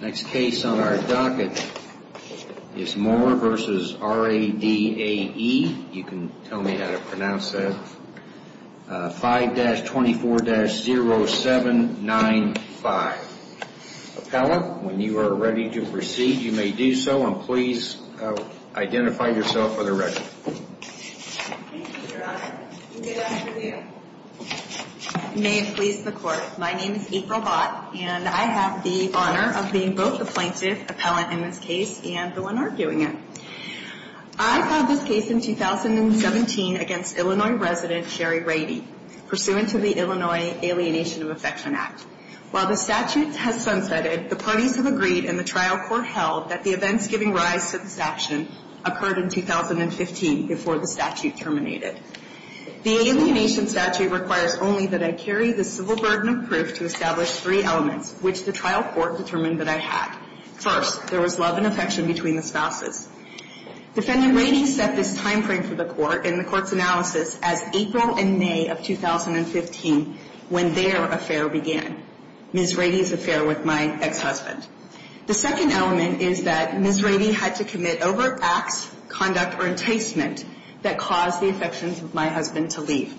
Next case on our docket is Moore v. Radae. You can tell me how to pronounce that. 5-24-0795. Appellant, when you are ready to proceed, you may do so, and please identify yourself for the record. Thank you, Your Honor. Good afternoon. May it please the Court, my name is April Bott, and I have the honor of being both the plaintiff, appellant in this case, and the one arguing it. I filed this case in 2017 against Illinois resident Sherry Radee, pursuant to the Illinois Alienation of Affection Act. While the statute has sunsetted, the parties have agreed and the trial court held that the events giving rise to this action occurred in 2015 before the statute terminated. The alienation statute requires only that I carry the civil burden of proof to establish three elements, which the trial court determined that I had. First, there was love and affection between the spouses. Defendant Radee set this time frame for the Court in the Court's analysis as April and May of 2015, when their affair began, Ms. Radee's affair with my ex-husband. The second element is that Ms. Radee had to commit overt acts, conduct, or enticement that caused the affections of my husband to leave.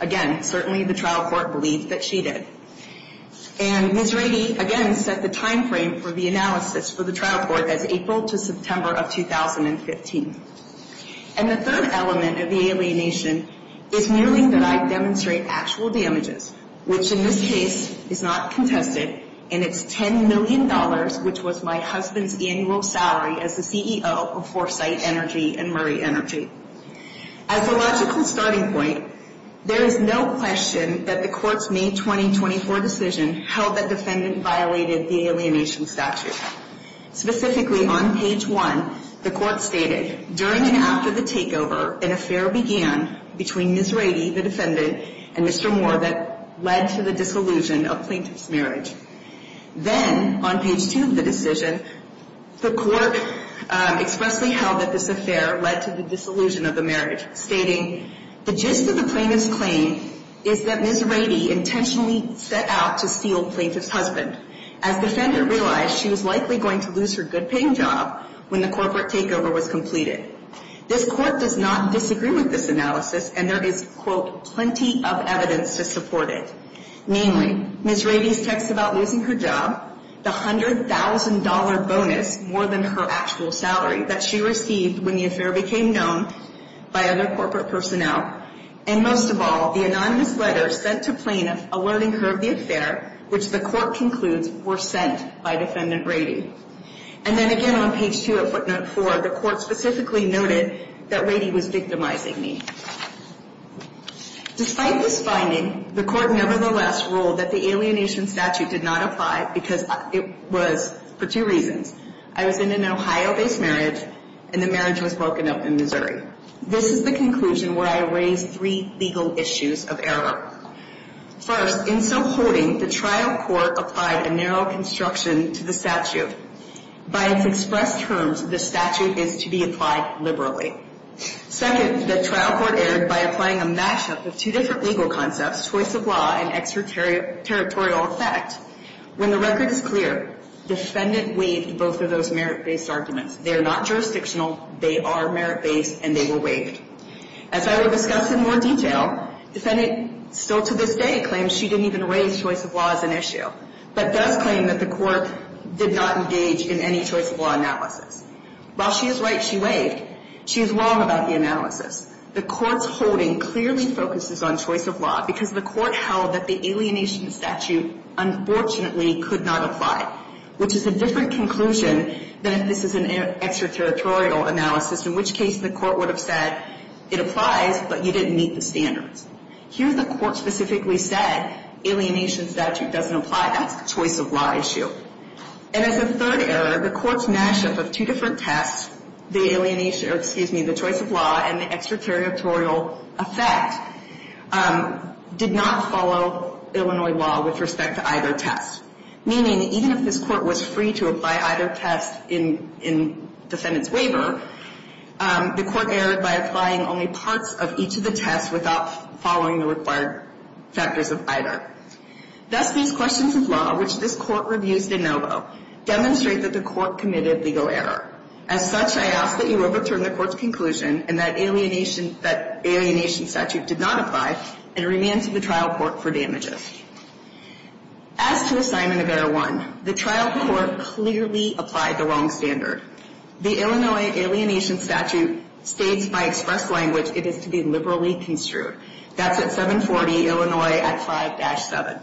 Again, certainly the trial court believed that she did. And Ms. Radee, again, set the time frame for the analysis for the trial court as April to September of 2015. And the third element of the alienation is merely that I demonstrate actual damages, which in this case is not contested, and it's $10 million, which was my husband's annual salary as the CEO of Foresight Energy and Murray Energy. As a logical starting point, there is no question that the Court's May 2024 decision held that defendant violated the alienation statute. Specifically, on page 1, the Court stated, During and after the takeover, an affair began between Ms. Radee, the defendant, and Mr. Moore that led to the disillusion of plaintiff's marriage. Then, on page 2 of the decision, the Court expressly held that this affair led to the disillusion of the marriage, stating, The gist of the plaintiff's claim is that Ms. Radee intentionally set out to steal plaintiff's husband, as defendant realized she was likely going to lose her good-paying job when the corporate takeover was completed. This Court does not disagree with this analysis, and there is, quote, plenty of evidence to support it. Namely, Ms. Radee's text about losing her job, the $100,000 bonus more than her actual salary that she received when the affair became known by other corporate personnel, and most of all, the anonymous letter sent to plaintiff alerting her of the affair, which the Court concludes were sent by defendant Radee. And then again on page 2 of footnote 4, the Court specifically noted that Radee was victimizing me. Despite this finding, the Court nevertheless ruled that the alienation statute did not apply because it was for two reasons. I was in an Ohio-based marriage, and the marriage was broken up in Missouri. This is the conclusion where I raise three legal issues of error. First, in some holding, the trial court applied a narrow construction to the statute. By its expressed terms, the statute is to be applied liberally. Second, the trial court erred by applying a mashup of two different legal concepts, choice of law and extraterritorial effect. When the record is clear, defendant waived both of those merit-based arguments. They are not jurisdictional, they are merit-based, and they were waived. As I will discuss in more detail, defendant still to this day claims she didn't even raise choice of law as an issue, but does claim that the Court did not engage in any choice of law analysis. While she is right she waived, she is wrong about the analysis. The Court's holding clearly focuses on choice of law because the Court held that the alienation statute unfortunately could not apply, which is a different conclusion than if this is an extraterritorial analysis, in which case the Court would have said it applies, but you didn't meet the standards. Here the Court specifically said alienation statute doesn't apply. That's a choice of law issue. And as a third error, the Court's mashup of two different tests, the alienation or excuse me, the choice of law and the extraterritorial effect, did not follow Illinois law with respect to either test. Meaning even if this Court was free to apply either test in defendant's waiver, the Court erred by applying only parts of each of the tests without following the required factors of either. Thus these questions of law, which this Court reviews de novo, demonstrate that the Court committed legal error. As such, I ask that you overturn the Court's conclusion and that alienation statute did not apply and remand to the trial court for damages. As to assignment of error one, the trial court clearly applied the wrong standard. The Illinois alienation statute states by express language it is to be liberally construed. That's at 740 Illinois at 5-7.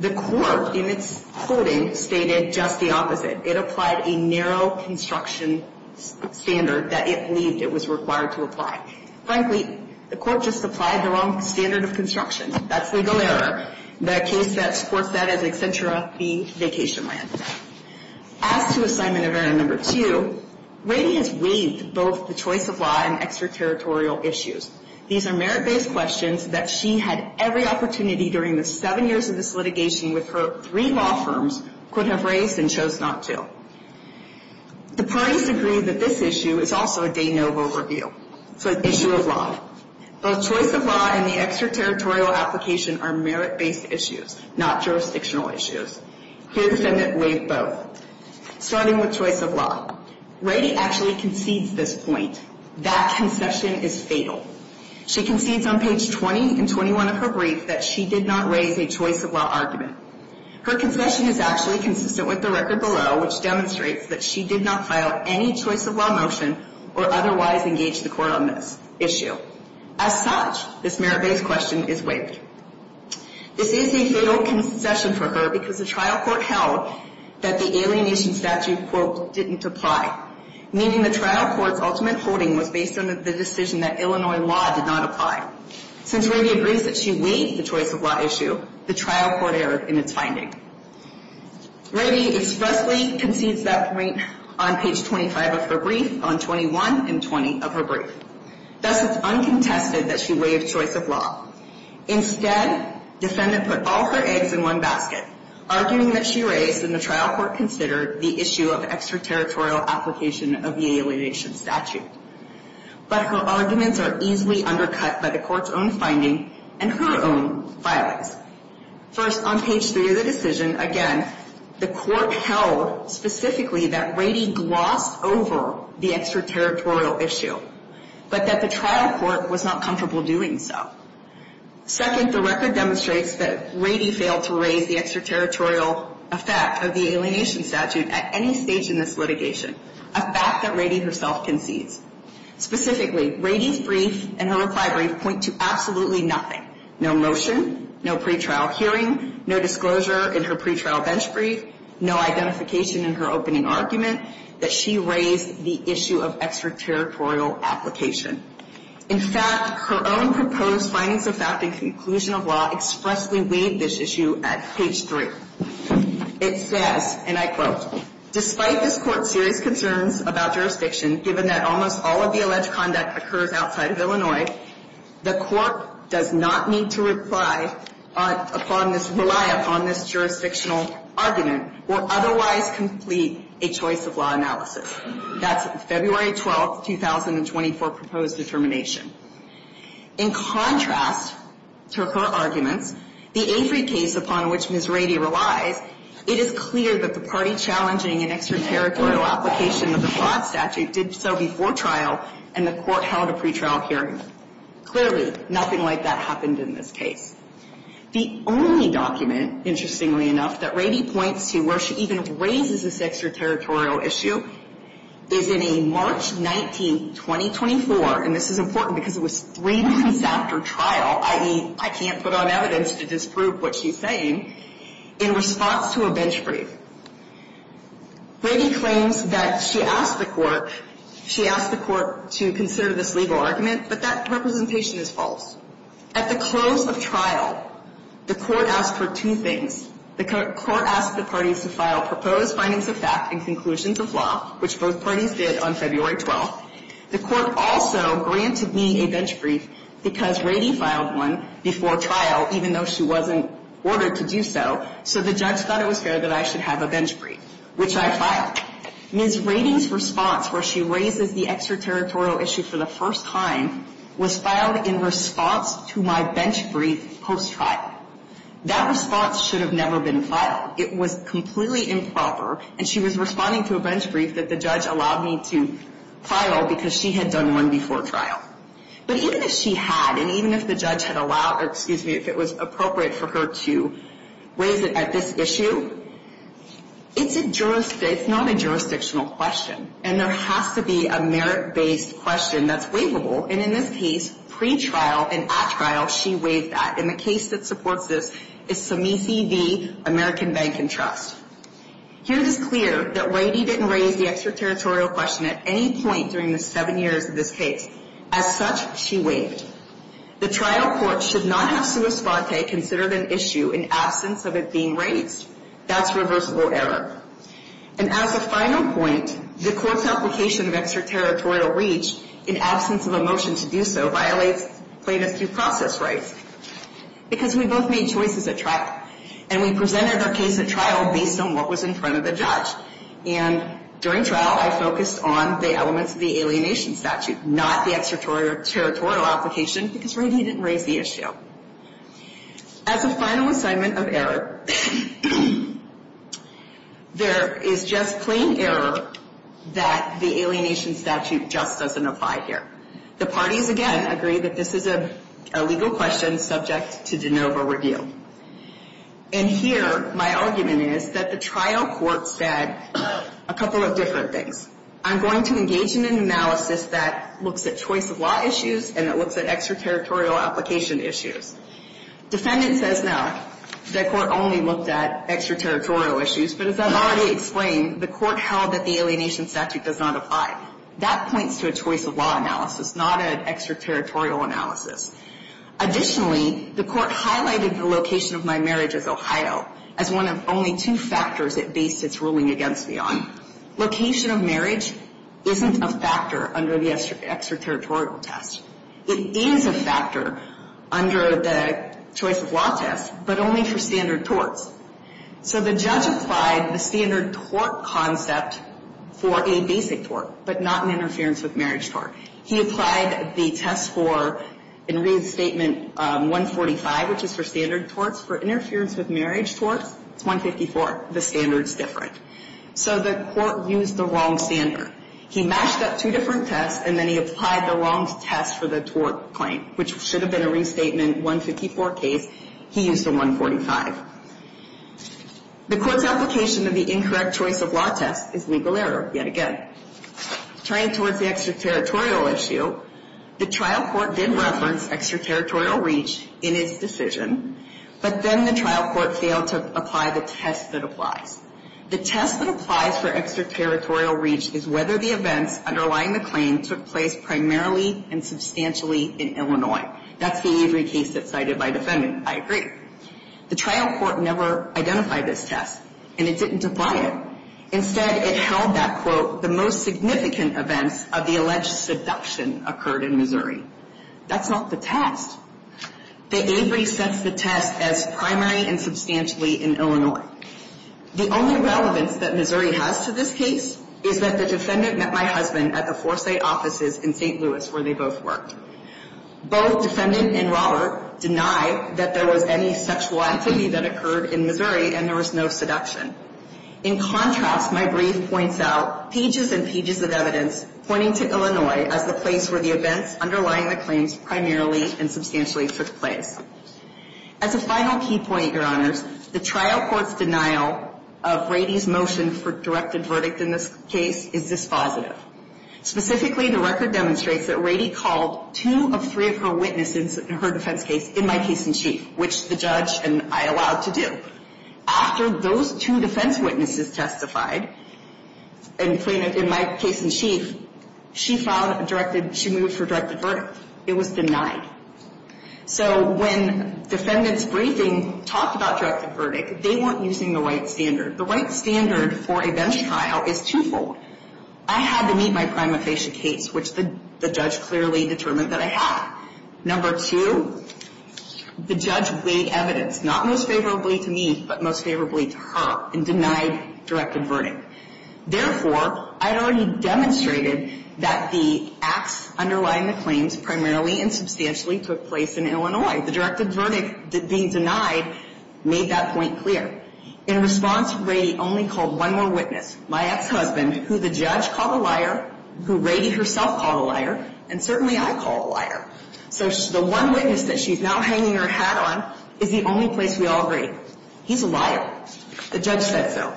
The Court in its quoting stated just the opposite. It applied a narrow construction standard that it believed it was required to apply. Frankly, the Court just applied the wrong standard of construction. That's legal error. The case that supports that is Accentura v. Vacationland. As to assignment of error number two, Rady has waived both the choice of law and extraterritorial issues. These are merit-based questions that she had every opportunity during the seven years of this litigation with her three law firms, could have raised and chose not to. The parties agree that this issue is also a de novo review. It's an issue of law. Both choice of law and the extraterritorial application are merit-based issues, not jurisdictional issues. His amendment waived both, starting with choice of law. Rady actually concedes this point. That concession is fatal. She concedes on page 20 and 21 of her brief that she did not raise a choice of law argument. Her concession is actually consistent with the record below, which demonstrates that she did not file any choice of law motion or otherwise engage the Court on this issue. As such, this merit-based question is waived. This is a fatal concession for her because the trial court held that the alienation statute, quote, didn't apply, meaning the trial court's ultimate holding was based on the decision that Illinois law did not apply. Since Rady agrees that she waived the choice of law issue, the trial court erred in its finding. Rady expressly concedes that point on page 25 of her brief, on 21 and 20 of her brief. Thus, it's uncontested that she waived choice of law. Instead, defendant put all her eggs in one basket, arguing that she raised and the trial court considered the issue of extraterritorial application of the alienation statute. But her arguments are easily undercut by the Court's own finding and her own filings. First, on page 3 of the decision, again, the Court held specifically that Rady glossed over the extraterritorial issue, but that the trial court was not comfortable doing so. Second, the record demonstrates that Rady failed to raise the extraterritorial effect of the alienation statute at any stage in this litigation, a fact that Rady herself concedes. Specifically, Rady's brief and her reply brief point to absolutely nothing, no motion, no pretrial hearing, no disclosure in her pretrial bench brief, no identification in her opening argument that she raised the issue of extraterritorial application. In fact, her own proposed findings of fact and conclusion of law expressly waived this issue at page 3. It says, and I quote, Despite this Court's serious concerns about jurisdiction, given that almost all of the alleged conduct occurs outside of Illinois, the Court does not need to rely upon this jurisdictional argument or otherwise complete a choice of law analysis. That's February 12, 2024, proposed determination. In contrast to her arguments, the Avery case, upon which Ms. Rady relies, it is clear that the party challenging an extraterritorial application of the fraud statute did so before trial and the Court held a pretrial hearing. Clearly, nothing like that happened in this case. The only document, interestingly enough, that Rady points to where she even raises this extraterritorial issue is in a March 19, 2024, and this is important because it was three months after trial, i.e., I can't put on evidence to disprove what she's saying, in response to a bench brief. Rady claims that she asked the Court, she asked the Court to consider this legal argument, but that representation is false. At the close of trial, the Court asked for two things. The Court asked the parties to file proposed findings of fact and conclusions of law, which both parties did on February 12. The Court also granted me a bench brief because Rady filed one before trial, even though she wasn't ordered to do so, so the judge thought it was fair that I should have a bench brief, which I filed. Ms. Rady's response, where she raises the extraterritorial issue for the first time, was filed in response to my bench brief post-trial. That response should have never been filed. It was completely improper, and she was responding to a bench brief that the judge allowed me to file because she had done one before trial. But even if she had, and even if the judge had allowed, or excuse me, if it was appropriate for her to raise it at this issue, it's not a jurisdictional question, and there has to be a merit-based question that's waivable, and in this case, pre-trial and at trial, she waived that. And the case that supports this is Samici v. American Bank and Trust. Here it is clear that Rady didn't raise the extraterritorial question at any point during the seven years of this case. As such, she waived. The trial court should not have sua sponte considered an issue in absence of it being raised. That's reversible error. And as a final point, the court's application of extraterritorial reach in absence of a motion to do so violates plaintiff due process rights because we both made choices at trial, and we presented our case at trial based on what was in front of the judge. And during trial, I focused on the elements of the alienation statute, not the extraterritorial application because Rady didn't raise the issue. As a final assignment of error, there is just plain error that the alienation statute just doesn't apply here. The parties, again, agree that this is a legal question subject to de novo review. And here my argument is that the trial court said a couple of different things. I'm going to engage in an analysis that looks at choice of law issues and that looks at extraterritorial application issues. Defendant says no. That court only looked at extraterritorial issues. But as I've already explained, the court held that the alienation statute does not apply. That points to a choice of law analysis, not an extraterritorial analysis. Additionally, the court highlighted the location of my marriage as Ohio as one of only two factors it based its ruling against me on. Location of marriage isn't a factor under the extraterritorial test. It is a factor under the choice of law test, but only for standard torts. So the judge applied the standard tort concept for a basic tort, but not an interference with marriage tort. He applied the test for in restatement 145, which is for standard torts. For interference with marriage torts, it's 154. The standard's different. So the court used the wrong standard. He mashed up two different tests, and then he applied the wrong test for the tort claim, which should have been a restatement 154 case. He used the 145. The court's application of the incorrect choice of law test is legal error yet again. Turning towards the extraterritorial issue, the trial court did reference extraterritorial reach in its decision, but then the trial court failed to apply the test that applies. The test that applies for extraterritorial reach is whether the events underlying the claim took place primarily and substantially in Illinois. That's the Avery case that's cited by defendant. I agree. The trial court never identified this test, and it didn't apply it. Instead, it held that, quote, the most significant events of the alleged seduction occurred in Missouri. That's not the test. The Avery sets the test as primary and substantially in Illinois. The only relevance that Missouri has to this case is that the defendant met my husband at the Forsyth offices in St. Louis, where they both worked. Both defendant and Robert denied that there was any sexual activity that occurred in Missouri, and there was no seduction. In contrast, my brief points out pages and pages of evidence pointing to Illinois as the place where the events underlying the claims primarily and substantially took place. As a final key point, Your Honors, the trial court's denial of Rady's motion for directed verdict in this case is dispositive. Specifically, the record demonstrates that Rady called two of three of her witnesses in her defense case in my case in chief, which the judge and I allowed to do. After those two defense witnesses testified in my case in chief, she moved for directed verdict. It was denied. So when defendants' briefing talked about directed verdict, they weren't using the right standard. The right standard for a bench trial is twofold. I had to meet my prima facie case, which the judge clearly determined that I had. Number two, the judge weighed evidence, not most favorably to me, but most favorably to her, and denied directed verdict. Therefore, I had already demonstrated that the acts underlying the claims primarily and substantially took place in Illinois. The directed verdict being denied made that point clear. In response, Rady only called one more witness, my ex-husband, who the judge called a liar, who Rady herself called a liar, and certainly I call a liar. So the one witness that she's now hanging her hat on is the only place we all agree. He's a liar. The judge said so.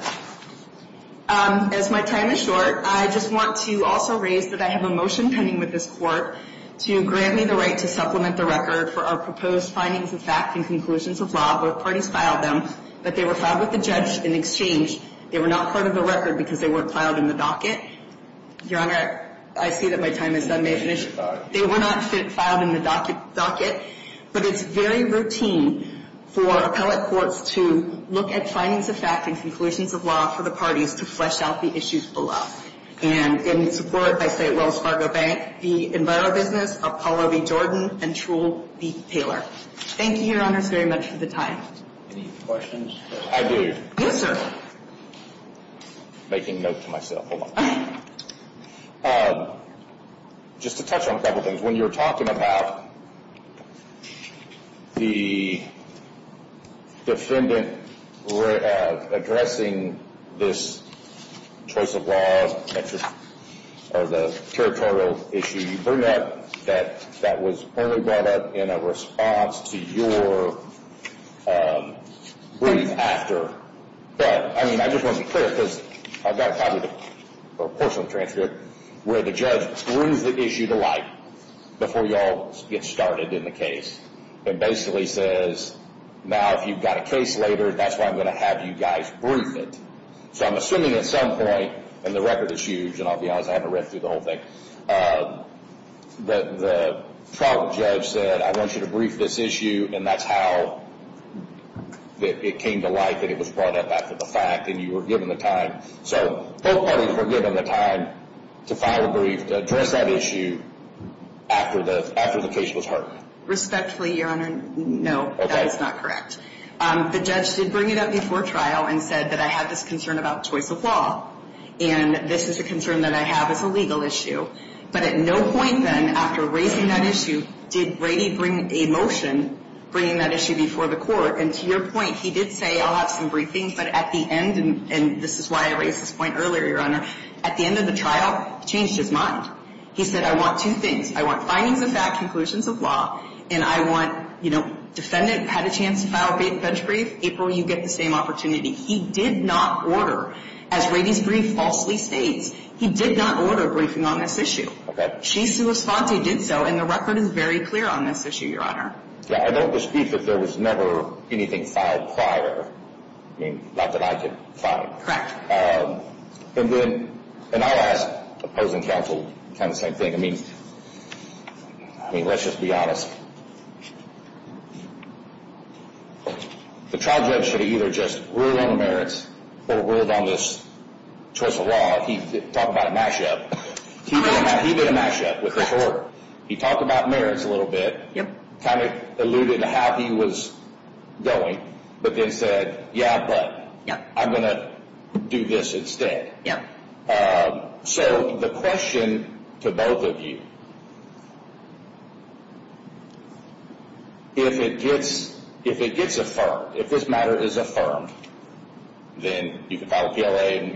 As my time is short, I just want to also raise that I have a motion pending with this Court to grant me the right to supplement the record for our proposed findings of fact and conclusions of law. Both parties filed them, but they were filed with the judge in exchange. They were not part of the record because they weren't filed in the docket. Your Honor, I see that my time is done. May I finish? They were not filed in the docket. But it's very routine for appellate courts to look at findings of fact and conclusions of law for the parties to flesh out the issues below. And in support, I say Wells Fargo Bank, the EnviroBusiness, Apollo v. Jordan, and Trull v. Taylor. Thank you, Your Honors, very much for the time. Any questions? I do. Yes, sir. Making note to myself. Just to touch on a couple things. When you're talking about the defendant addressing this choice of law or the territorial issue, you bring up that that was only brought up in a response to your brief after. But I just want to be clear because I've got a portion of the transcript where the judge brings the issue to light before you all get started in the case. It basically says, now if you've got a case later, that's why I'm going to have you guys brief it. So I'm assuming at some point, and the record is huge, and I'll be honest, I haven't read through the whole thing, the trial judge said, I want you to brief this issue, and that's how it came to light that it was brought up after the fact, and you were given the time. So both parties were given the time to file a brief to address that issue after the case was heard. Respectfully, Your Honor, no, that is not correct. The judge did bring it up before trial and said that I have this concern about choice of law, and this is a concern that I have as a legal issue. But at no point then, after raising that issue, did Brady bring a motion bringing that issue before the court, and to your point, he did say, I'll have some briefings, but at the end, and this is why I raised this point earlier, Your Honor, at the end of the trial, he changed his mind. He said, I want two things. I want findings of fact, conclusions of law, and I want, you know, defendant had a chance to file a bench brief, April, you get the same opportunity. He did not order, as Brady's brief falsely states, he did not order a briefing on this issue. Okay. She's the response, he did so, and the record is very clear on this issue, Your Honor. Yeah, I don't dispute that there was never anything filed prior. I mean, not that I could find. Correct. And then, and I'll ask opposing counsel kind of the same thing. I mean, let's just be honest. The trial judge should have either just ruled on the merits or ruled on this choice of law. He talked about a mashup. He made a mashup with the court. He talked about merits a little bit, kind of alluded to how he was going, but then said, yeah, but I'm going to do this instead. Yeah. So the question to both of you, if it gets affirmed, if this matter is affirmed, then you can file a PLA and,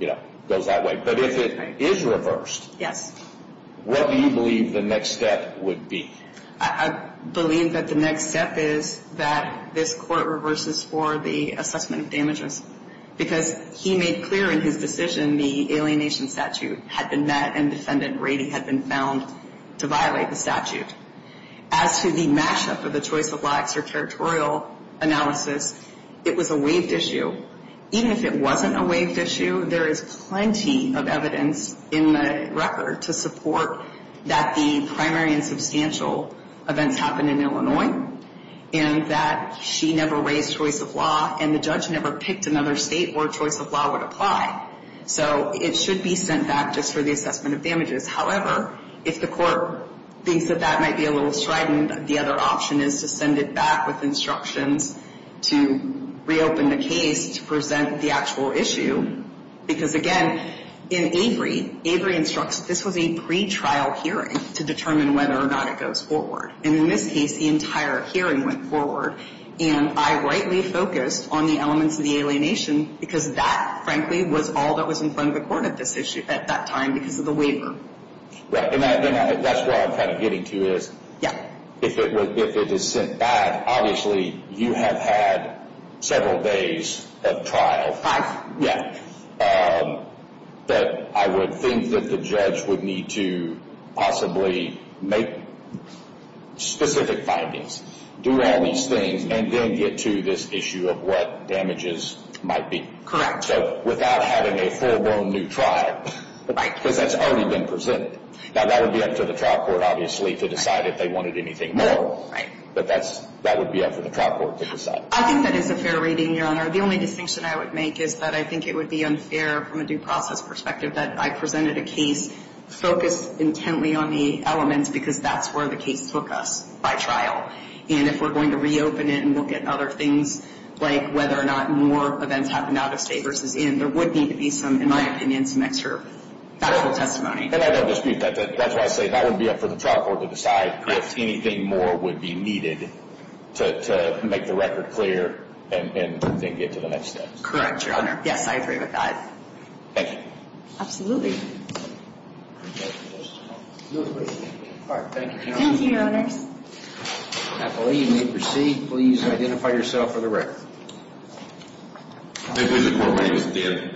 you know, it goes that way. But if it is reversed, what do you believe the next step would be? I believe that the next step is that this court reverses for the assessment of damages because he made clear in his decision the alienation statute had been met and Defendant Rady had been found to violate the statute. As to the mashup of the choice of law extraterritorial analysis, it was a waived issue. Even if it wasn't a waived issue, there is plenty of evidence in the record to support that the primary and substantial events happened in Illinois and that she never raised choice of law and the judge never picked another state where choice of law would apply. So it should be sent back just for the assessment of damages. However, if the court thinks that that might be a little strident, the other option is to send it back with instructions to reopen the case to present the actual issue. Because, again, in Avery, Avery instructs this was a pretrial hearing to determine whether or not it goes forward. And in this case, the entire hearing went forward. And I rightly focused on the elements of the alienation because that, frankly, was all that was in front of the court at that time because of the waiver. Right. And that's where I'm kind of getting to is if it is sent back, obviously you have had several days of trial. Five. Yeah. But I would think that the judge would need to possibly make specific findings, do all these things, and then get to this issue of what damages might be. Correct. So without having a full blown new trial. Right. Because that's already been presented. Now, that would be up to the trial court, obviously, to decide if they wanted anything more. Right. But that would be up to the trial court to decide. I think that is a fair reading, Your Honor. The only distinction I would make is that I think it would be unfair from a due process perspective that I presented a case focused intently on the elements because that's where the case took us by trial. And if we're going to reopen it and look at other things, like whether or not more events happened out of state versus in, there would need to be some, in my opinion, some extra factual testimony. And I don't dispute that. That's why I say that would be up for the trial court to decide if anything more would be needed to make the record clear and then get to the next step. Correct, Your Honor. Yes, I agree with that. Thank you. Absolutely. Thank you, Your Honor. I believe you may proceed. Please identify yourself for the record. My name is Dave.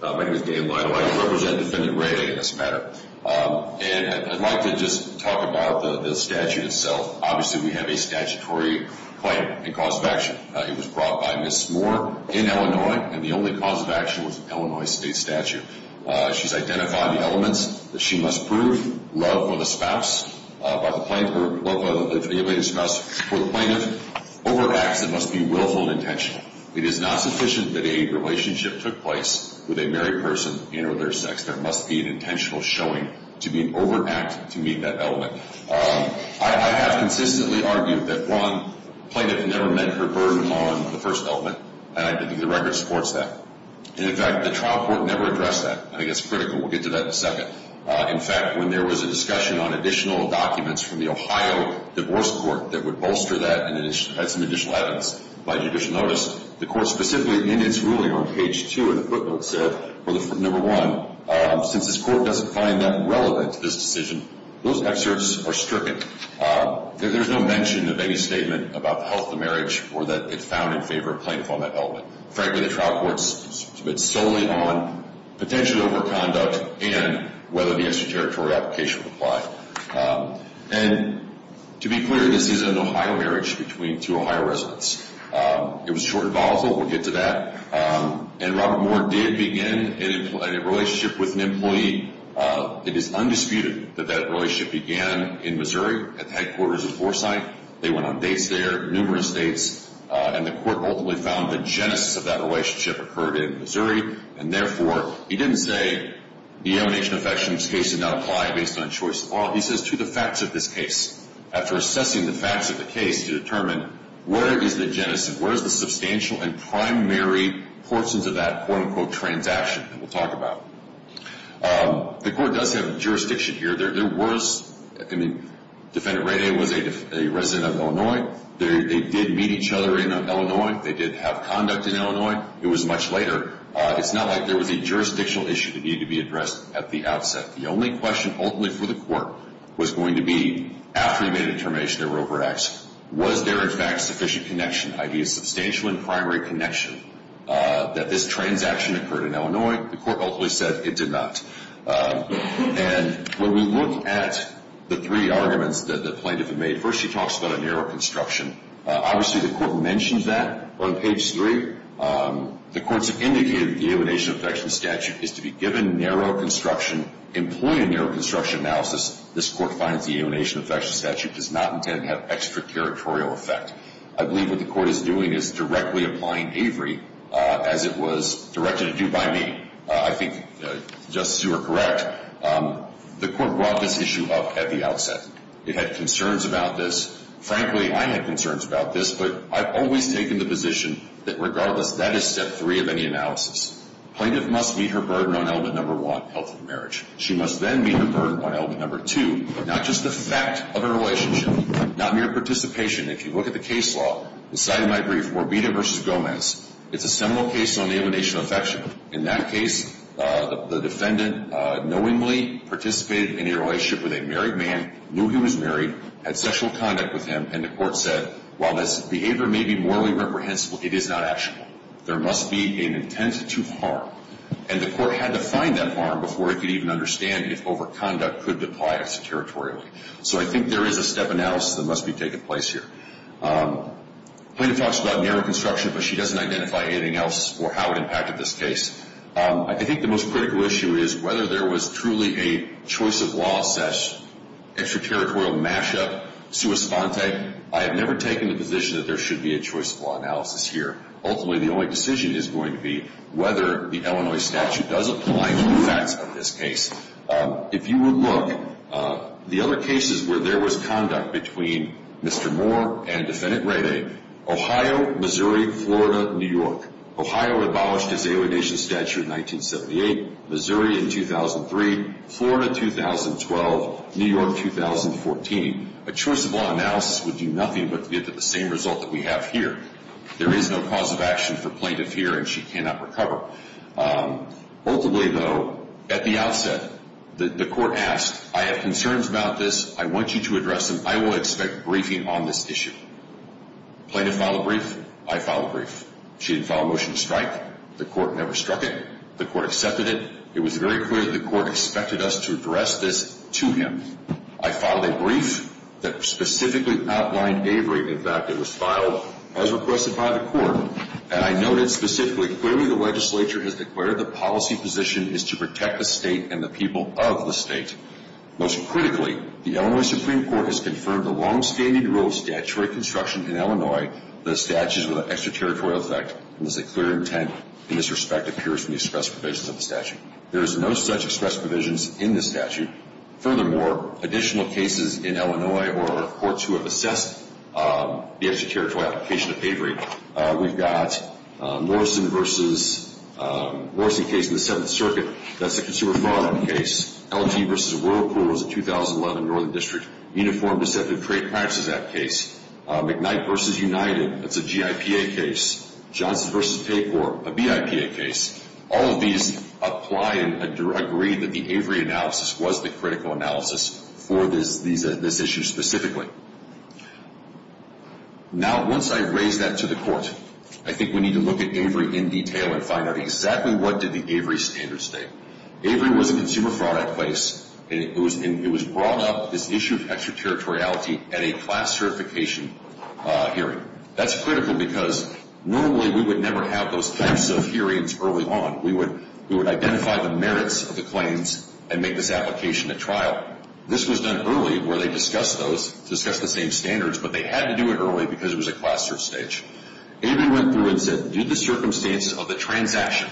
My name is Dave Lido. I represent Defendant Ray in this matter. And I'd like to just talk about the statute itself. Obviously, we have a statutory claim and cause of action. It was brought by Ms. Moore in Illinois, and the only cause of action was an Illinois state statute. She's identified the elements that she must prove, love for the spouse, by the plaintiff or love for the ablated spouse for the plaintiff, over acts that must be willful and intentional. It is not sufficient that a relationship took place with a married person and or their sex. There must be an intentional showing to be an over act to meet that element. I have consistently argued that one plaintiff never met her burden on the first element, and I think the record supports that. And, in fact, the trial court never addressed that. I think that's critical. We'll get to that in a second. In fact, when there was a discussion on additional documents from the Ohio Divorce Court that would bolster that and add some additional evidence by judicial notice, the court specifically in its ruling on page 2 of the footnote said, number one, since this court doesn't find that relevant to this decision, those excerpts are stricken. There's no mention of any statement about the health of the marriage or that it's found in favor of plaintiff on that element. Frankly, the trial court's been solely on potential over conduct and whether the extraterritorial application would apply. And, to be clear, this isn't an Ohio marriage between two Ohio residents. It was short and volatile. We'll get to that. And Robert Moore did begin a relationship with an employee. It is undisputed that that relationship began in Missouri at the headquarters of Forsythe. They went on dates there, numerous dates, and the court ultimately found the genesis of that relationship occurred in Missouri. And, therefore, he didn't say the emanation of affection case did not apply based on choice of law. He says to the facts of this case. After assessing the facts of the case to determine where is the genesis, where is the substantial and primary portions of that, quote, unquote, transaction that we'll talk about. The court does have jurisdiction here. There was, I mean, Defendant Ray Day was a resident of Illinois. They did meet each other in Illinois. They did have conduct in Illinois. It was much later. It's not like there was a jurisdictional issue that needed to be addressed at the outset. The only question ultimately for the court was going to be, after he made a determination there were overacts, was there, in fact, sufficient connection, i.e., a substantial and primary connection, that this transaction occurred in Illinois? The court ultimately said it did not. And when we look at the three arguments that the plaintiff made, first she talks about a narrow construction. Obviously, the court mentioned that on page three. The courts have indicated that the alienation of affection statute is to be given narrow construction, employ a narrow construction analysis. This court finds the alienation of affection statute does not intend to have extra-territorial effect. I believe what the court is doing is directly applying Avery, as it was directed to do by me. I think, Justice, you are correct. The court brought this issue up at the outset. It had concerns about this. Frankly, I had concerns about this, but I've always taken the position that, regardless, that is step three of any analysis. The plaintiff must meet her burden on element number one, health and marriage. She must then meet her burden on element number two, but not just the fact of her relationship, not mere participation. If you look at the case law, the side of my brief, Morbita v. Gomez, it's a seminal case on alienation of affection. In that case, the defendant knowingly participated in a relationship with a married man, knew he was married, had sexual conduct with him, and the court said, while this behavior may be morally reprehensible, it is not actionable. There must be an intent to harm. And the court had to find that harm before it could even understand if overconduct could apply extra-territorially. So I think there is a step analysis that must be taking place here. The plaintiff talks about narrow construction, but she doesn't identify anything else or how it impacted this case. I think the most critical issue is whether there was truly a choice-of-law-assessed, extra-territorial mash-up, sua sponte. I have never taken the position that there should be a choice-of-law analysis here. Ultimately, the only decision is going to be whether the Illinois statute does apply to the facts of this case. If you would look, the other cases where there was conduct between Mr. Moore and Defendant Rayday, Ohio, Missouri, Florida, New York. Ohio abolished his alienation statute in 1978. Missouri in 2003. Florida, 2012. New York, 2014. A choice-of-law analysis would do nothing but give the same result that we have here. There is no cause of action for plaintiff here, and she cannot recover. Ultimately, though, at the outset, the court asked, I have concerns about this. I want you to address them. I will expect briefing on this issue. Plaintiff filed a brief. I filed a brief. She didn't file a motion to strike. The court never struck it. The court accepted it. It was very clear that the court expected us to address this to him. I filed a brief that specifically outlined Avery. In fact, it was filed as requested by the court, and I noted specifically, clearly the legislature has declared the policy position is to protect the state and the people of the state. Most critically, the Illinois Supreme Court has confirmed the longstanding rule of statutory construction in Illinois, the statute is with an extraterritorial effect, and there's a clear intent in this respect appears in the express provisions of the statute. There is no such express provisions in this statute. Furthermore, additional cases in Illinois or courts who have assessed the extraterritorial application of Avery, we've got Morrison v. Morrison case in the Seventh Circuit. That's the consumer fraud case. LG v. Whirlpool was a 2011 Northern District Uniform Deceptive Trade Practices Act case. McKnight v. United, that's a GIPA case. Johnson v. Tapor, a BIPA case. All of these apply and agree that the Avery analysis was the critical analysis for this issue specifically. Now, once I raise that to the court, I think we need to look at Avery in detail and find out exactly what did the Avery standards state. Avery was a consumer fraud case, and it was brought up, this issue of extraterritoriality, at a class certification hearing. That's critical because normally we would never have those types of hearings early on. We would identify the merits of the claims and make this application at trial. This was done early where they discussed those, discussed the same standards, but they had to do it early because it was a class search stage. Avery went through and said, due to the circumstances of the transaction,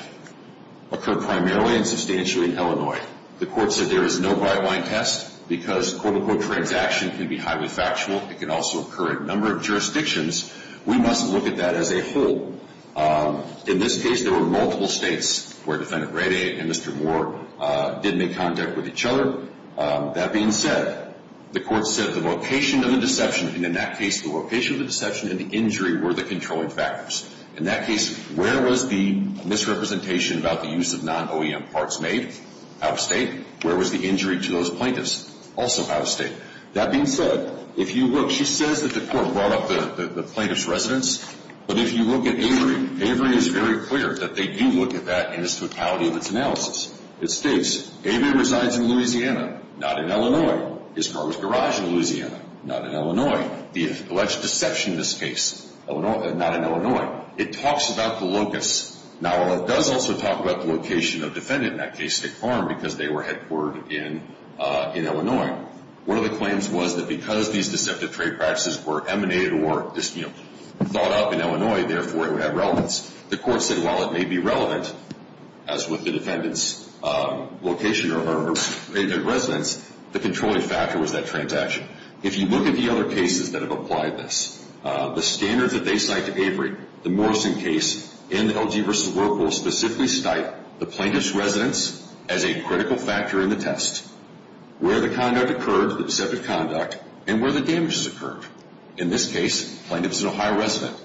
occurred primarily and substantially in Illinois. The court said there is no by-line test because, quote-unquote, transaction can be highly factual. It can also occur in a number of jurisdictions. We must look at that as a whole. In this case, there were multiple states where Defendant Rade and Mr. Moore did make contact with each other. That being said, the court said the location of the deception, and in that case the location of the deception and the injury were the controlling factors. In that case, where was the misrepresentation about the use of non-OEM parts made? Out-of-state. Where was the injury to those plaintiffs? Also out-of-state. That being said, if you look, she says that the court brought up the plaintiff's residence, but if you look at Avery, Avery is very clear that they do look at that in the totality of its analysis. It states Avery resides in Louisiana, not in Illinois. His car was garaged in Louisiana, not in Illinois. The alleged deception in this case, not in Illinois. It talks about the locus. Now, while it does also talk about the location of Defendant, in that case, at the farm because they were headquartered in Illinois, one of the claims was that because these deceptive trade practices were emanated or thought up in Illinois, therefore it would have relevance. The court said, while it may be relevant, as with the Defendant's location or resident's, the controlling factor was that transaction. If you look at the other cases that have applied this, the standards that they cite to Avery, the Morrison case, and the LG v. Work will specifically cite the plaintiff's residence as a critical factor in the test, where the conduct occurred, the deceptive conduct, and where the damages occurred. In this case, the plaintiff is an Ohio resident.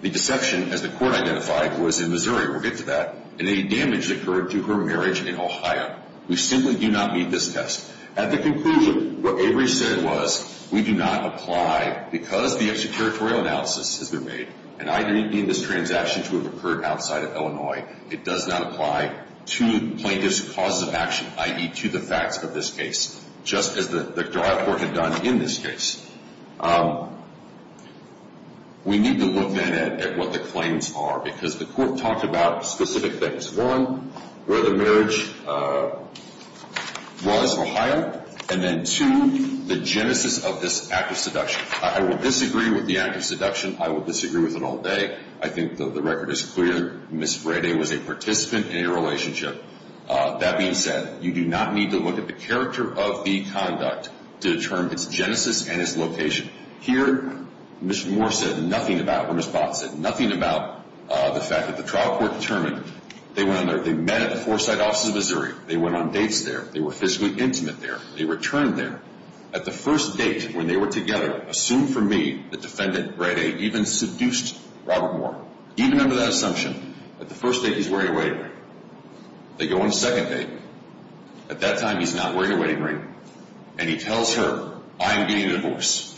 The deception, as the court identified, was in Missouri. We'll get to that. And any damage occurred to her marriage in Ohio. We simply do not meet this test. At the conclusion, what Avery said was, we do not apply, because the extraterritorial analysis has been made, and either it being this transaction to have occurred outside of Illinois, it does not apply to plaintiff's causes of action, i.e. to the facts of this case, just as the trial court had done in this case. We need to look then at what the claims are because the court talked about specific things. One, where the marriage was, Ohio. And then, two, the genesis of this act of seduction. I will disagree with the act of seduction. I will disagree with it all day. I think the record is clear. Ms. Brady was a participant in a relationship. That being said, you do not need to look at the character of the conduct to determine its genesis and its location. Here, Mr. Moore said nothing about what Ms. Bott said, nothing about the fact that the trial court determined. They met at the Foresight offices of Missouri. They went on dates there. They were physically intimate there. They returned there. At the first date when they were together, assume for me, the defendant, Brady, even seduced Robert Moore. Do you remember that assumption? At the first date, he's wearing a wedding ring. They go on a second date. At that time, he's not wearing a wedding ring, and he tells her, I am getting a divorce.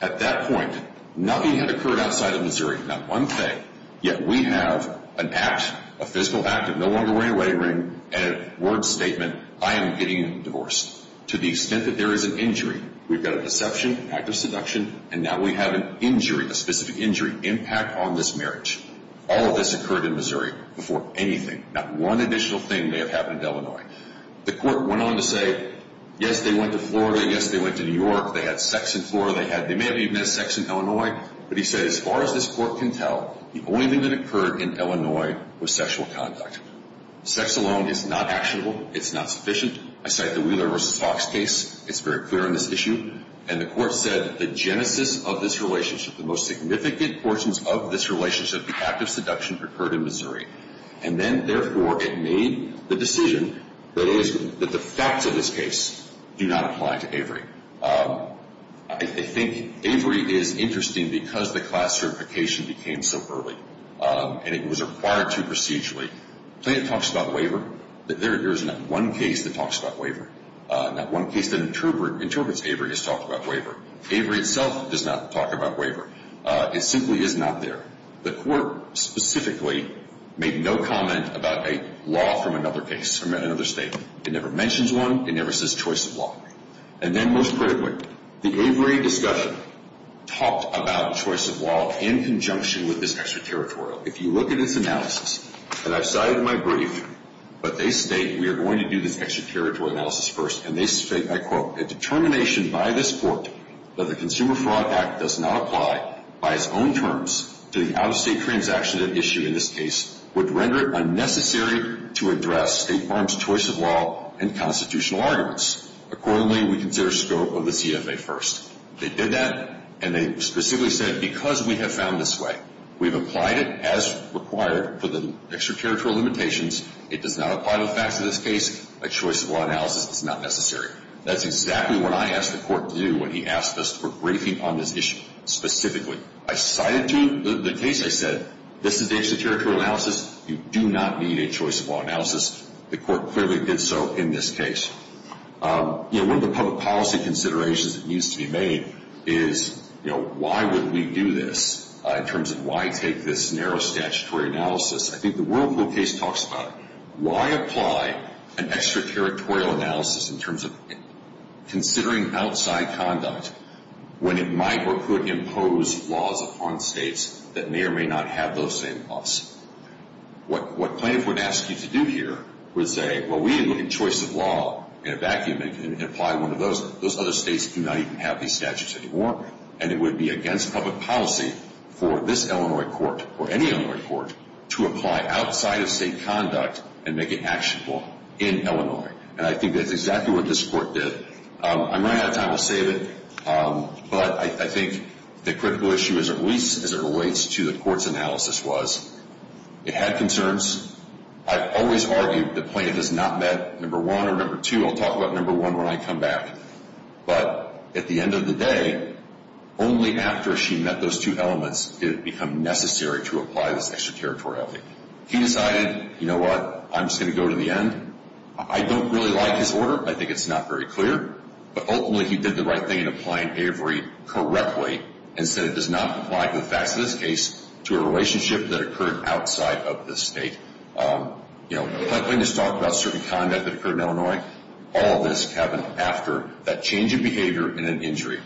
At that point, nothing had occurred outside of Missouri, not one thing, yet we have an act, a physical act of no longer wearing a wedding ring and a word statement, I am getting a divorce. To the extent that there is an injury, we've got a deception, an act of seduction, and now we have an injury, a specific injury, impact on this marriage. All of this occurred in Missouri before anything. Not one additional thing may have happened in Illinois. The court went on to say, yes, they went to Florida. Yes, they went to New York. They had sex in Florida. They may have even had sex in Illinois. But he said, as far as this court can tell, the only thing that occurred in Illinois was sexual conduct. Sex alone is not actionable. It's not sufficient. I cite the Wheeler v. Fox case. It's very clear on this issue. And the court said the genesis of this relationship, the most significant portions of this relationship, the act of seduction occurred in Missouri. And then, therefore, it made the decision that the facts of this case do not apply to Avery. I think Avery is interesting because the class certification became so early and it was required too procedurally. The thing that talks about waiver, there is not one case that talks about waiver. Not one case that interprets Avery as talking about waiver. Avery itself does not talk about waiver. It simply is not there. The court specifically made no comment about a law from another case from another state. It never mentions one. It never says choice of law. And then, most critically, the Avery discussion talked about choice of law in conjunction with this extraterritorial. If you look at its analysis, and I've cited my brief, but they state we are going to do this extraterritorial analysis first, and they state, I quote, a determination by this court that the Consumer Fraud Act does not apply by its own terms to the out-of-state transaction issue in this case would render it unnecessary to address State Farm's choice of law and constitutional arguments. Accordingly, we consider scope of this EFA first. They did that, and they specifically said, because we have found this way, we've applied it as required for the extraterritorial limitations. It does not apply to the facts of this case. A choice of law analysis is not necessary. That's exactly what I asked the court to do when he asked us for briefing on this issue specifically. I cited to him the case. I said, this is the extraterritorial analysis. You do not need a choice of law analysis. The court clearly did so in this case. You know, one of the public policy considerations that needs to be made is, you know, why would we do this in terms of why take this narrow statutory analysis? I think the Whirlpool case talks about it. Why apply an extraterritorial analysis in terms of considering outside conduct when it might or could impose laws upon states that may or may not have those same laws? What plaintiff would ask you to do here would say, well, we didn't look at choice of law in a vacuum and apply one of those. Those other states do not even have these statutes anymore. And it would be against public policy for this Illinois court or any Illinois court to apply outside of state conduct and make it actionable in Illinois. And I think that's exactly what this court did. I'm running out of time. I'll save it. But I think the critical issue, at least as it relates to the court's analysis, was it had concerns. I've always argued the plaintiff has not met number one or number two. I'll talk about number one when I come back. But at the end of the day, only after she met those two elements did it become necessary to apply this extraterritoriality. He decided, you know what, I'm just going to go to the end. I don't really like his order. I think it's not very clear. But ultimately he did the right thing in applying Avery correctly and said it does not apply to the facts of this case to a relationship that occurred outside of this state. Plaintiff's talked about certain conduct that occurred in Illinois. All of this happened after that change in behavior and an injury.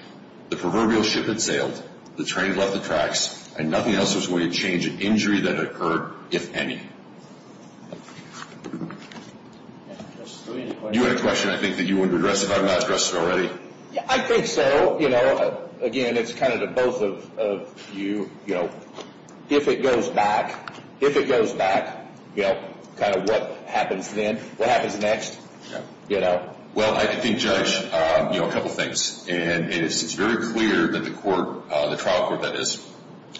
The proverbial ship had sailed, the train had left the tracks, and nothing else was going to change an injury that occurred, if any. You had a question I think that you wanted to address if I've not addressed it already? I think so. Again, it's kind of to both of you. If it goes back, if it goes back, kind of what happens then, what happens next? Well, I think, Judge, a couple of things. It's very clear that the trial court that is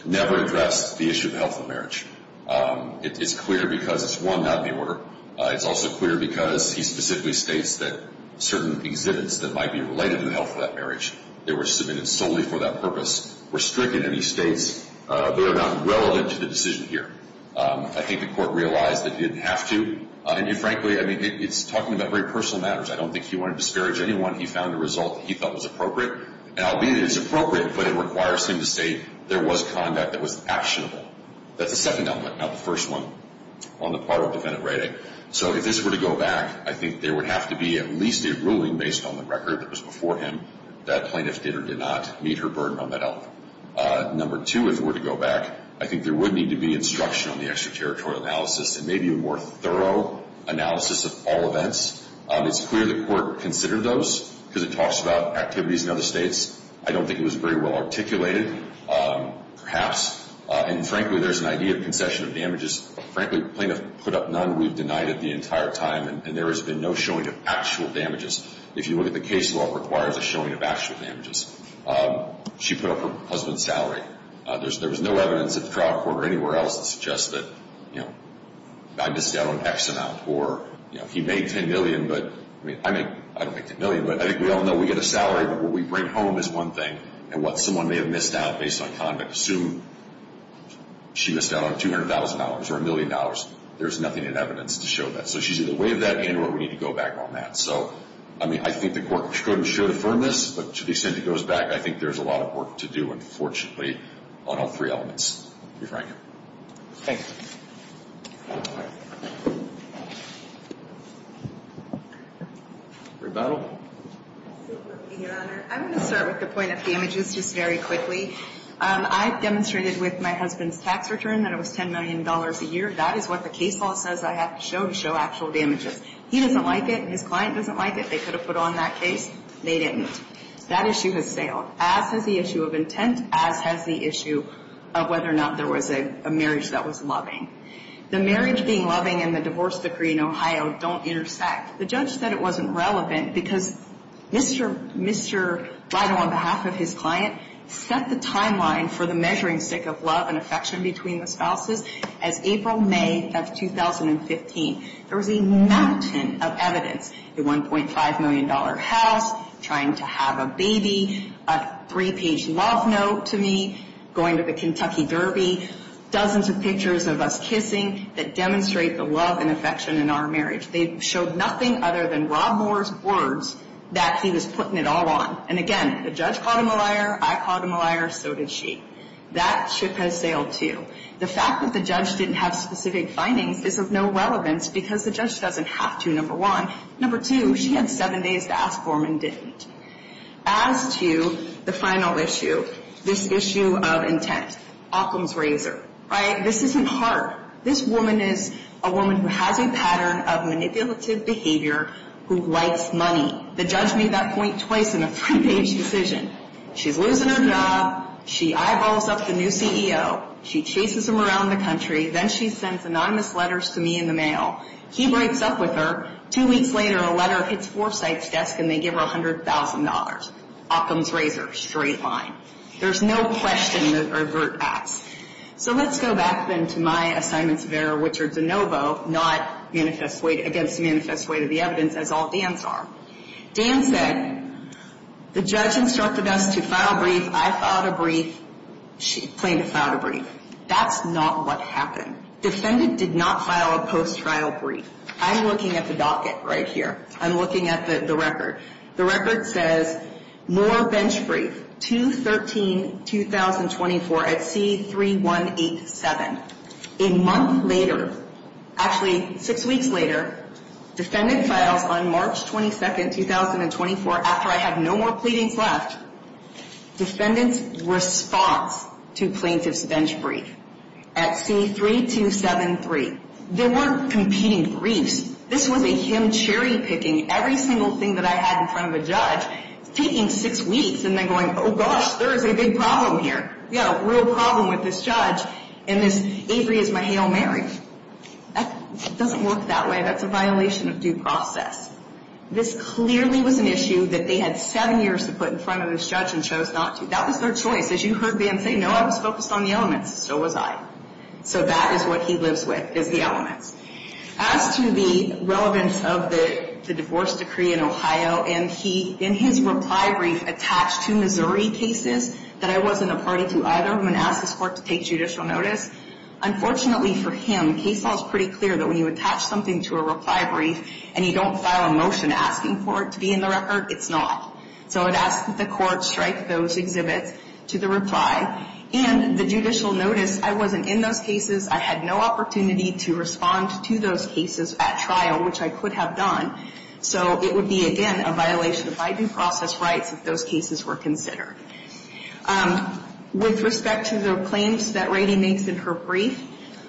never addressed the issue of health of marriage. It's clear because it's one not in the order. It's also clear because he specifically states that certain exhibits that might be related to the health of that marriage, they were submitted solely for that purpose, were stricken. And he states they are not relevant to the decision here. I think the court realized that he didn't have to. And frankly, I mean, it's talking about very personal matters. I don't think he wanted to disparage anyone. He found a result that he thought was appropriate. And albeit it's appropriate, but it requires him to say there was conduct that was actionable. That's the second element, not the first one on the part of defendant rating. So if this were to go back, I think there would have to be at least a ruling based on the record that was before him that plaintiff did or did not meet her burden on that health. Number two, if it were to go back, I think there would need to be instruction on the extraterritorial analysis and maybe a more thorough analysis of all events. It's clear the court considered those because it talks about activities in other states. I don't think it was very well articulated. Perhaps. And frankly, there's an idea of concession of damages. Frankly, plaintiff put up none. We've denied it the entire time, and there has been no showing of actual damages. If you look at the case law, it requires a showing of actual damages. She put up her husband's salary. There was no evidence at the trial court or anywhere else that suggests that, you know, I missed out on X amount or, you know, he made $10 million, but, I mean, I don't make $10 million, but I think we all know we get a salary, but what we bring home is one thing, and what someone may have missed out based on conduct. Assume she missed out on $200,000 or $1 million. There's nothing in evidence to show that. So she's either way of that, and we need to go back on that. So, I mean, I think the court could and should affirm this, but to the extent it goes back, I think there's a lot of work to do, unfortunately, on all three elements, to be frank. Thank you. Rebuttal. Your Honor, I'm going to start with the point of damages just very quickly. I've demonstrated with my husband's tax return that it was $10 million a year. That is what the case law says I have to show to show actual damages. He doesn't like it, and his client doesn't like it. They could have put on that case. They didn't. That issue has sailed, as has the issue of intent, as has the issue of whether or not there was a marriage that was loving. The marriage being loving and the divorce decree in Ohio don't intersect. The judge said it wasn't relevant because Mr. Lido, on behalf of his client, set the timeline for the measuring stick of love and affection between the spouses as April, May of 2015. There was a mountain of evidence, the $1.5 million house, trying to have a baby, a three-page love note to me, going to the Kentucky Derby, dozens of pictures of us kissing that demonstrate the love and affection in our marriage. They showed nothing other than Rob Moore's words that he was putting it all on. And, again, the judge caught him a liar, I caught him a liar, so did she. That ship has sailed, too. The fact that the judge didn't have specific findings is of no relevance because the judge doesn't have to, number one. Number two, she had seven days to ask for them and didn't. As to the final issue, this issue of intent. Occam's razor, right? This isn't hard. This woman is a woman who has a pattern of manipulative behavior who likes money. The judge made that point twice in a three-page decision. She's losing her job, she eyeballs up the new CEO, she chases him around the country, then she sends anonymous letters to me in the mail. He breaks up with her. Two weeks later, a letter hits Forsythe's desk and they give her $100,000. Occam's razor, straight line. There's no question or avert acts. So let's go back, then, to my assignments of error, which are de novo, not against the manifest weight of the evidence, as all Dan's are. Dan said, the judge instructed us to file a brief, I filed a brief, she claimed to file a brief. That's not what happened. Defendant did not file a post-trial brief. I'm looking at the docket right here. I'm looking at the record. The record says, more bench brief, 2-13-2024 at C-3187. A month later, actually six weeks later, defendant files on March 22, 2024, after I have no more pleadings left, defendant's response to plaintiff's bench brief at C-3273. There weren't competing briefs. This was a him cherry-picking every single thing that I had in front of a judge, taking six weeks and then going, oh, gosh, there is a big problem here. We have a real problem with this judge and this Avery is my Hail Mary. That doesn't work that way. That's a violation of due process. This clearly was an issue that they had seven years to put in front of this judge and chose not to. That was their choice. As you heard Van say, no, I was focused on the elements. So was I. So that is what he lives with, is the elements. As to the relevance of the divorce decree in Ohio, and he, in his reply brief, attached two Missouri cases that I wasn't a party to either when I asked this court to take judicial notice. Unfortunately for him, case law is pretty clear that when you attach something to a reply brief and you don't file a motion asking for it to be in the record, it's not. So I would ask that the court strike those exhibits to the reply. And the judicial notice, I wasn't in those cases. I had no opportunity to respond to those cases at trial, which I could have done. So it would be, again, a violation of my due process rights if those cases were considered. With respect to the claims that Rady makes in her brief,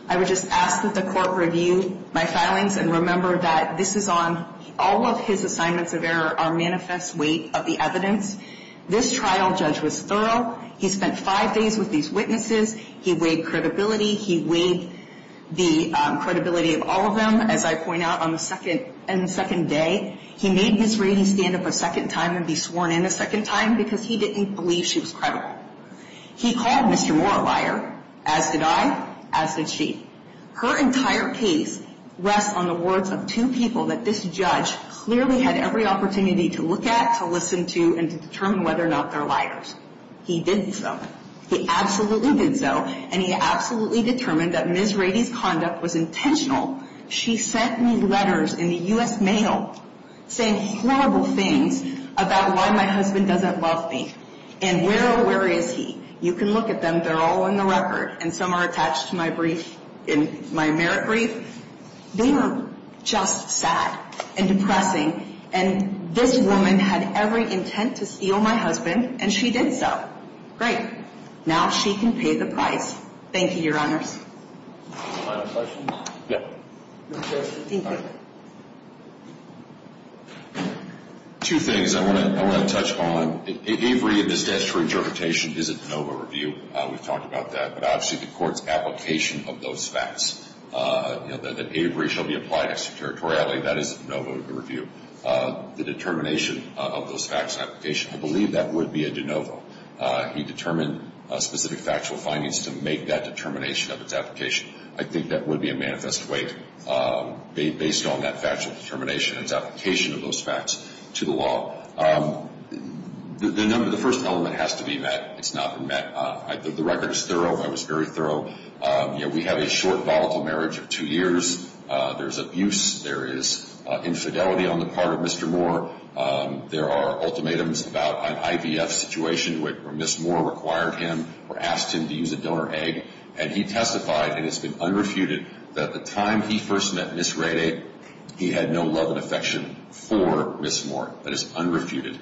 I would just ask that the court review my filings and remember that this is on all of his assignments of error are manifest weight of the evidence. This trial judge was thorough. He spent five days with these witnesses. He weighed credibility. He weighed the credibility of all of them, as I point out, on the second day. He made Miss Rady stand up a second time and be sworn in a second time because he didn't believe she was credible. He called Mr. Moore a liar. As did I. As did she. Her entire case rests on the words of two people that this judge clearly had every opportunity to look at, to listen to, and to determine whether or not they're liars. He did so. He absolutely did so. And he absolutely determined that Miss Rady's conduct was intentional. She sent me letters in the U.S. mail saying horrible things about why my husband doesn't love me and where or where is he. You can look at them. They're all in the record, and some are attached to my merit brief. They were just sad and depressing, and this woman had every intent to steal my husband, and she did so. Great. Now she can pay the price. Thank you, Your Honors. Final questions? No. Thank you. Two things I want to touch on. Avery in his statutory interpretation is a de novo review. We've talked about that. But obviously the court's application of those facts, that Avery shall be applied extraterritorially, that is a de novo review. The determination of those facts and application, I believe that would be a de novo. He determined specific factual findings to make that determination of its application. I think that would be a manifest wake based on that factual determination, its application of those facts to the law. The first element has to be met. It's not been met. The record is thorough. I was very thorough. We have a short volatile marriage of two years. There's abuse. There is infidelity on the part of Mr. Moore. There are ultimatums about an IVF situation where Ms. Moore required him or asked him to use a donor egg, and he testified, and it's been unrefuted, that the time he first met Ms. Rayday, he had no love and affection for Ms. Moore. That is unrefuted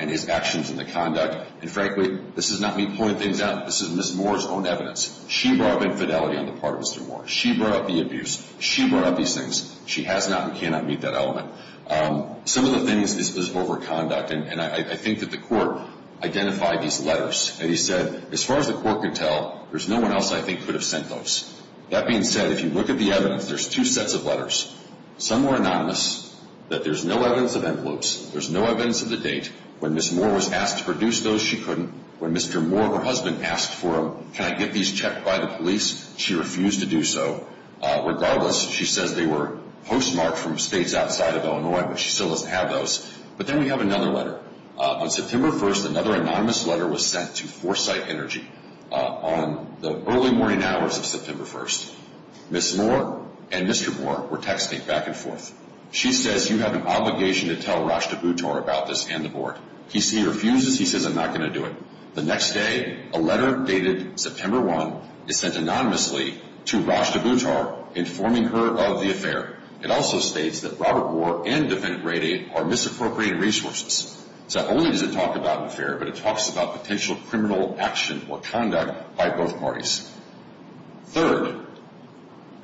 in his actions and the conduct. And frankly, this is not me pulling things out. This is Ms. Moore's own evidence. She brought up infidelity on the part of Mr. Moore. She brought up the abuse. She brought up these things. She has not and cannot meet that element. Some of the things is overconduct, and I think that the court identified these letters. And he said, as far as the court can tell, there's no one else I think could have sent those. That being said, if you look at the evidence, there's two sets of letters. Some were anonymous, that there's no evidence of envelopes. There's no evidence of the date. When Ms. Moore was asked to produce those, she couldn't. When Mr. Moore, her husband, asked for them, can I get these checked by the police, she refused to do so. Regardless, she says they were postmarked from states outside of Illinois, but she still doesn't have those. But then we have another letter. On September 1st, another anonymous letter was sent to Foresight Energy. On the early morning hours of September 1st, Ms. Moore and Mr. Moore were texting back and forth. She says, you have an obligation to tell Rashtabh Uttar about this and the board. He refuses. He says, I'm not going to do it. The next day, a letter dated September 1 is sent anonymously to Rashtabh Uttar informing her of the affair. It also states that Robert Moore and Defendant Radey are misappropriating resources. So not only does it talk about an affair, but it talks about potential criminal action or conduct by both parties. Third,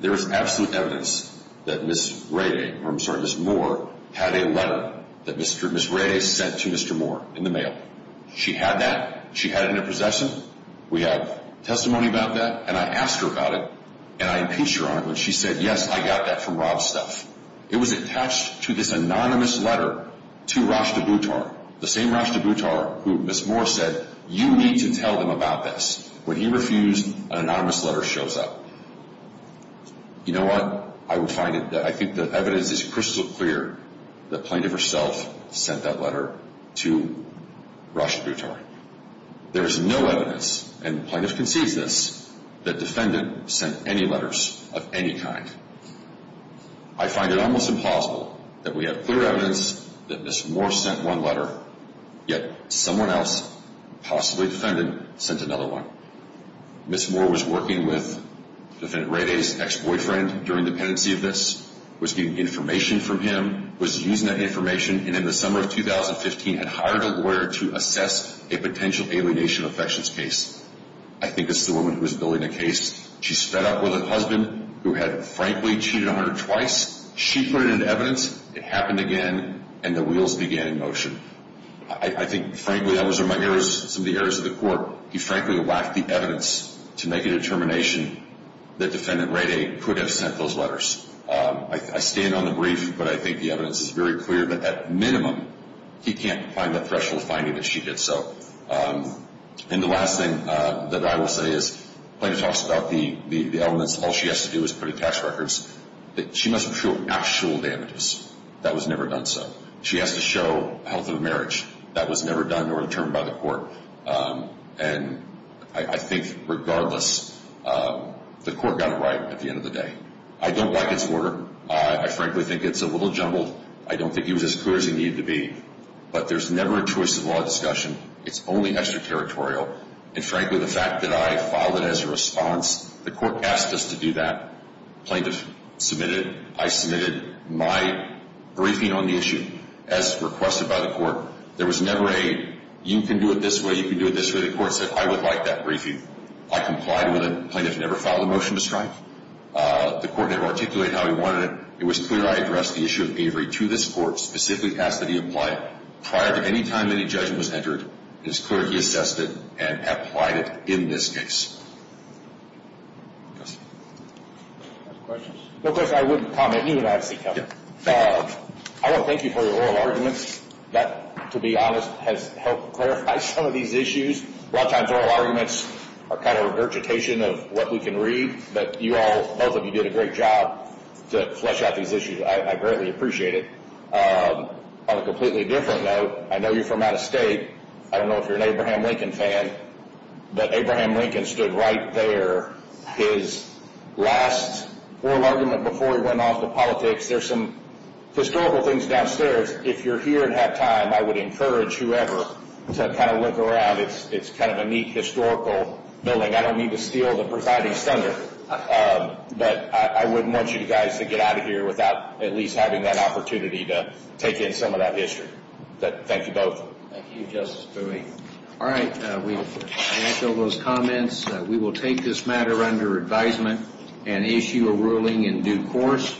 there is absolute evidence that Ms. Radey, or I'm sorry, Ms. Moore, had a letter that Ms. Radey sent to Mr. Moore in the mail. She had that. She had it in her possession. We have testimony about that. And I asked her about it, and I impeached her on it when she said, yes, I got that from Rob's stuff. It was attached to this anonymous letter to Rashtabh Uttar. The same Rashtabh Uttar who Ms. Moore said, you need to tell them about this. When he refused, an anonymous letter shows up. You know what? I will find it. I think the evidence is crystal clear that the plaintiff herself sent that letter to Rashtabh Uttar. There is no evidence, and the plaintiff concedes this, that defendant sent any letters of any kind. I find it almost impossible that we have clear evidence that Ms. Moore sent one letter, yet someone else, possibly defendant, sent another one. Ms. Moore was working with Defendant Radey's ex-boyfriend during dependency of this, was getting information from him, was using that information, and in the summer of 2015 had hired a lawyer to assess a potential alienation affections case. I think this is the woman who was building the case. She sped up with her husband who had, frankly, cheated on her twice. She put it into evidence. It happened again, and the wheels began in motion. I think, frankly, that was one of my errors, some of the errors of the court. He, frankly, lacked the evidence to make a determination that Defendant Radey could have sent those letters. I stand on the brief, but I think the evidence is very clear that, at minimum, he can't find the threshold finding that she did so. And the last thing that I will say is, the plaintiff talks about the elements. All she has to do is put in tax records. She must show actual damages. That was never done so. She has to show health of marriage. That was never done nor determined by the court. And I think, regardless, the court got it right at the end of the day. I don't like its order. I, frankly, think it's a little jumbled. I don't think he was as clear as he needed to be. But there's never a choice of law discussion. It's only extraterritorial. And, frankly, the fact that I filed it as a response, the court asked us to do that. The plaintiff submitted it. I submitted my briefing on the issue as requested by the court. There was never a, you can do it this way, you can do it this way. The court said, I would like that briefing. I complied with it. The plaintiff never filed a motion to strike. The court never articulated how he wanted it. It was clear I addressed the issue of bravery to this court, specifically asked that he apply it. Prior to any time any judgment was entered, it was clear he assessed it and applied it in this case. Questions? Of course, I wouldn't comment. You would obviously comment. I want to thank you for your oral arguments. That, to be honest, has helped clarify some of these issues. A lot of times oral arguments are kind of a regurgitation of what we can read. But you all, both of you, did a great job to flesh out these issues. I greatly appreciate it. On a completely different note, I know you're from out of state. I don't know if you're an Abraham Lincoln fan, but Abraham Lincoln stood right there, his last oral argument before he went off to politics. There's some historical things downstairs. If you're here and have time, I would encourage whoever to kind of look around. It's kind of a neat historical building. I don't mean to steal the presiding thunder, but I wouldn't want you guys to get out of here without at least having that opportunity to take in some of that history. Thank you both. Thank you, Justice Boehme. All right, we've answered all those comments. We will take this matter under advisement and issue a ruling in due course.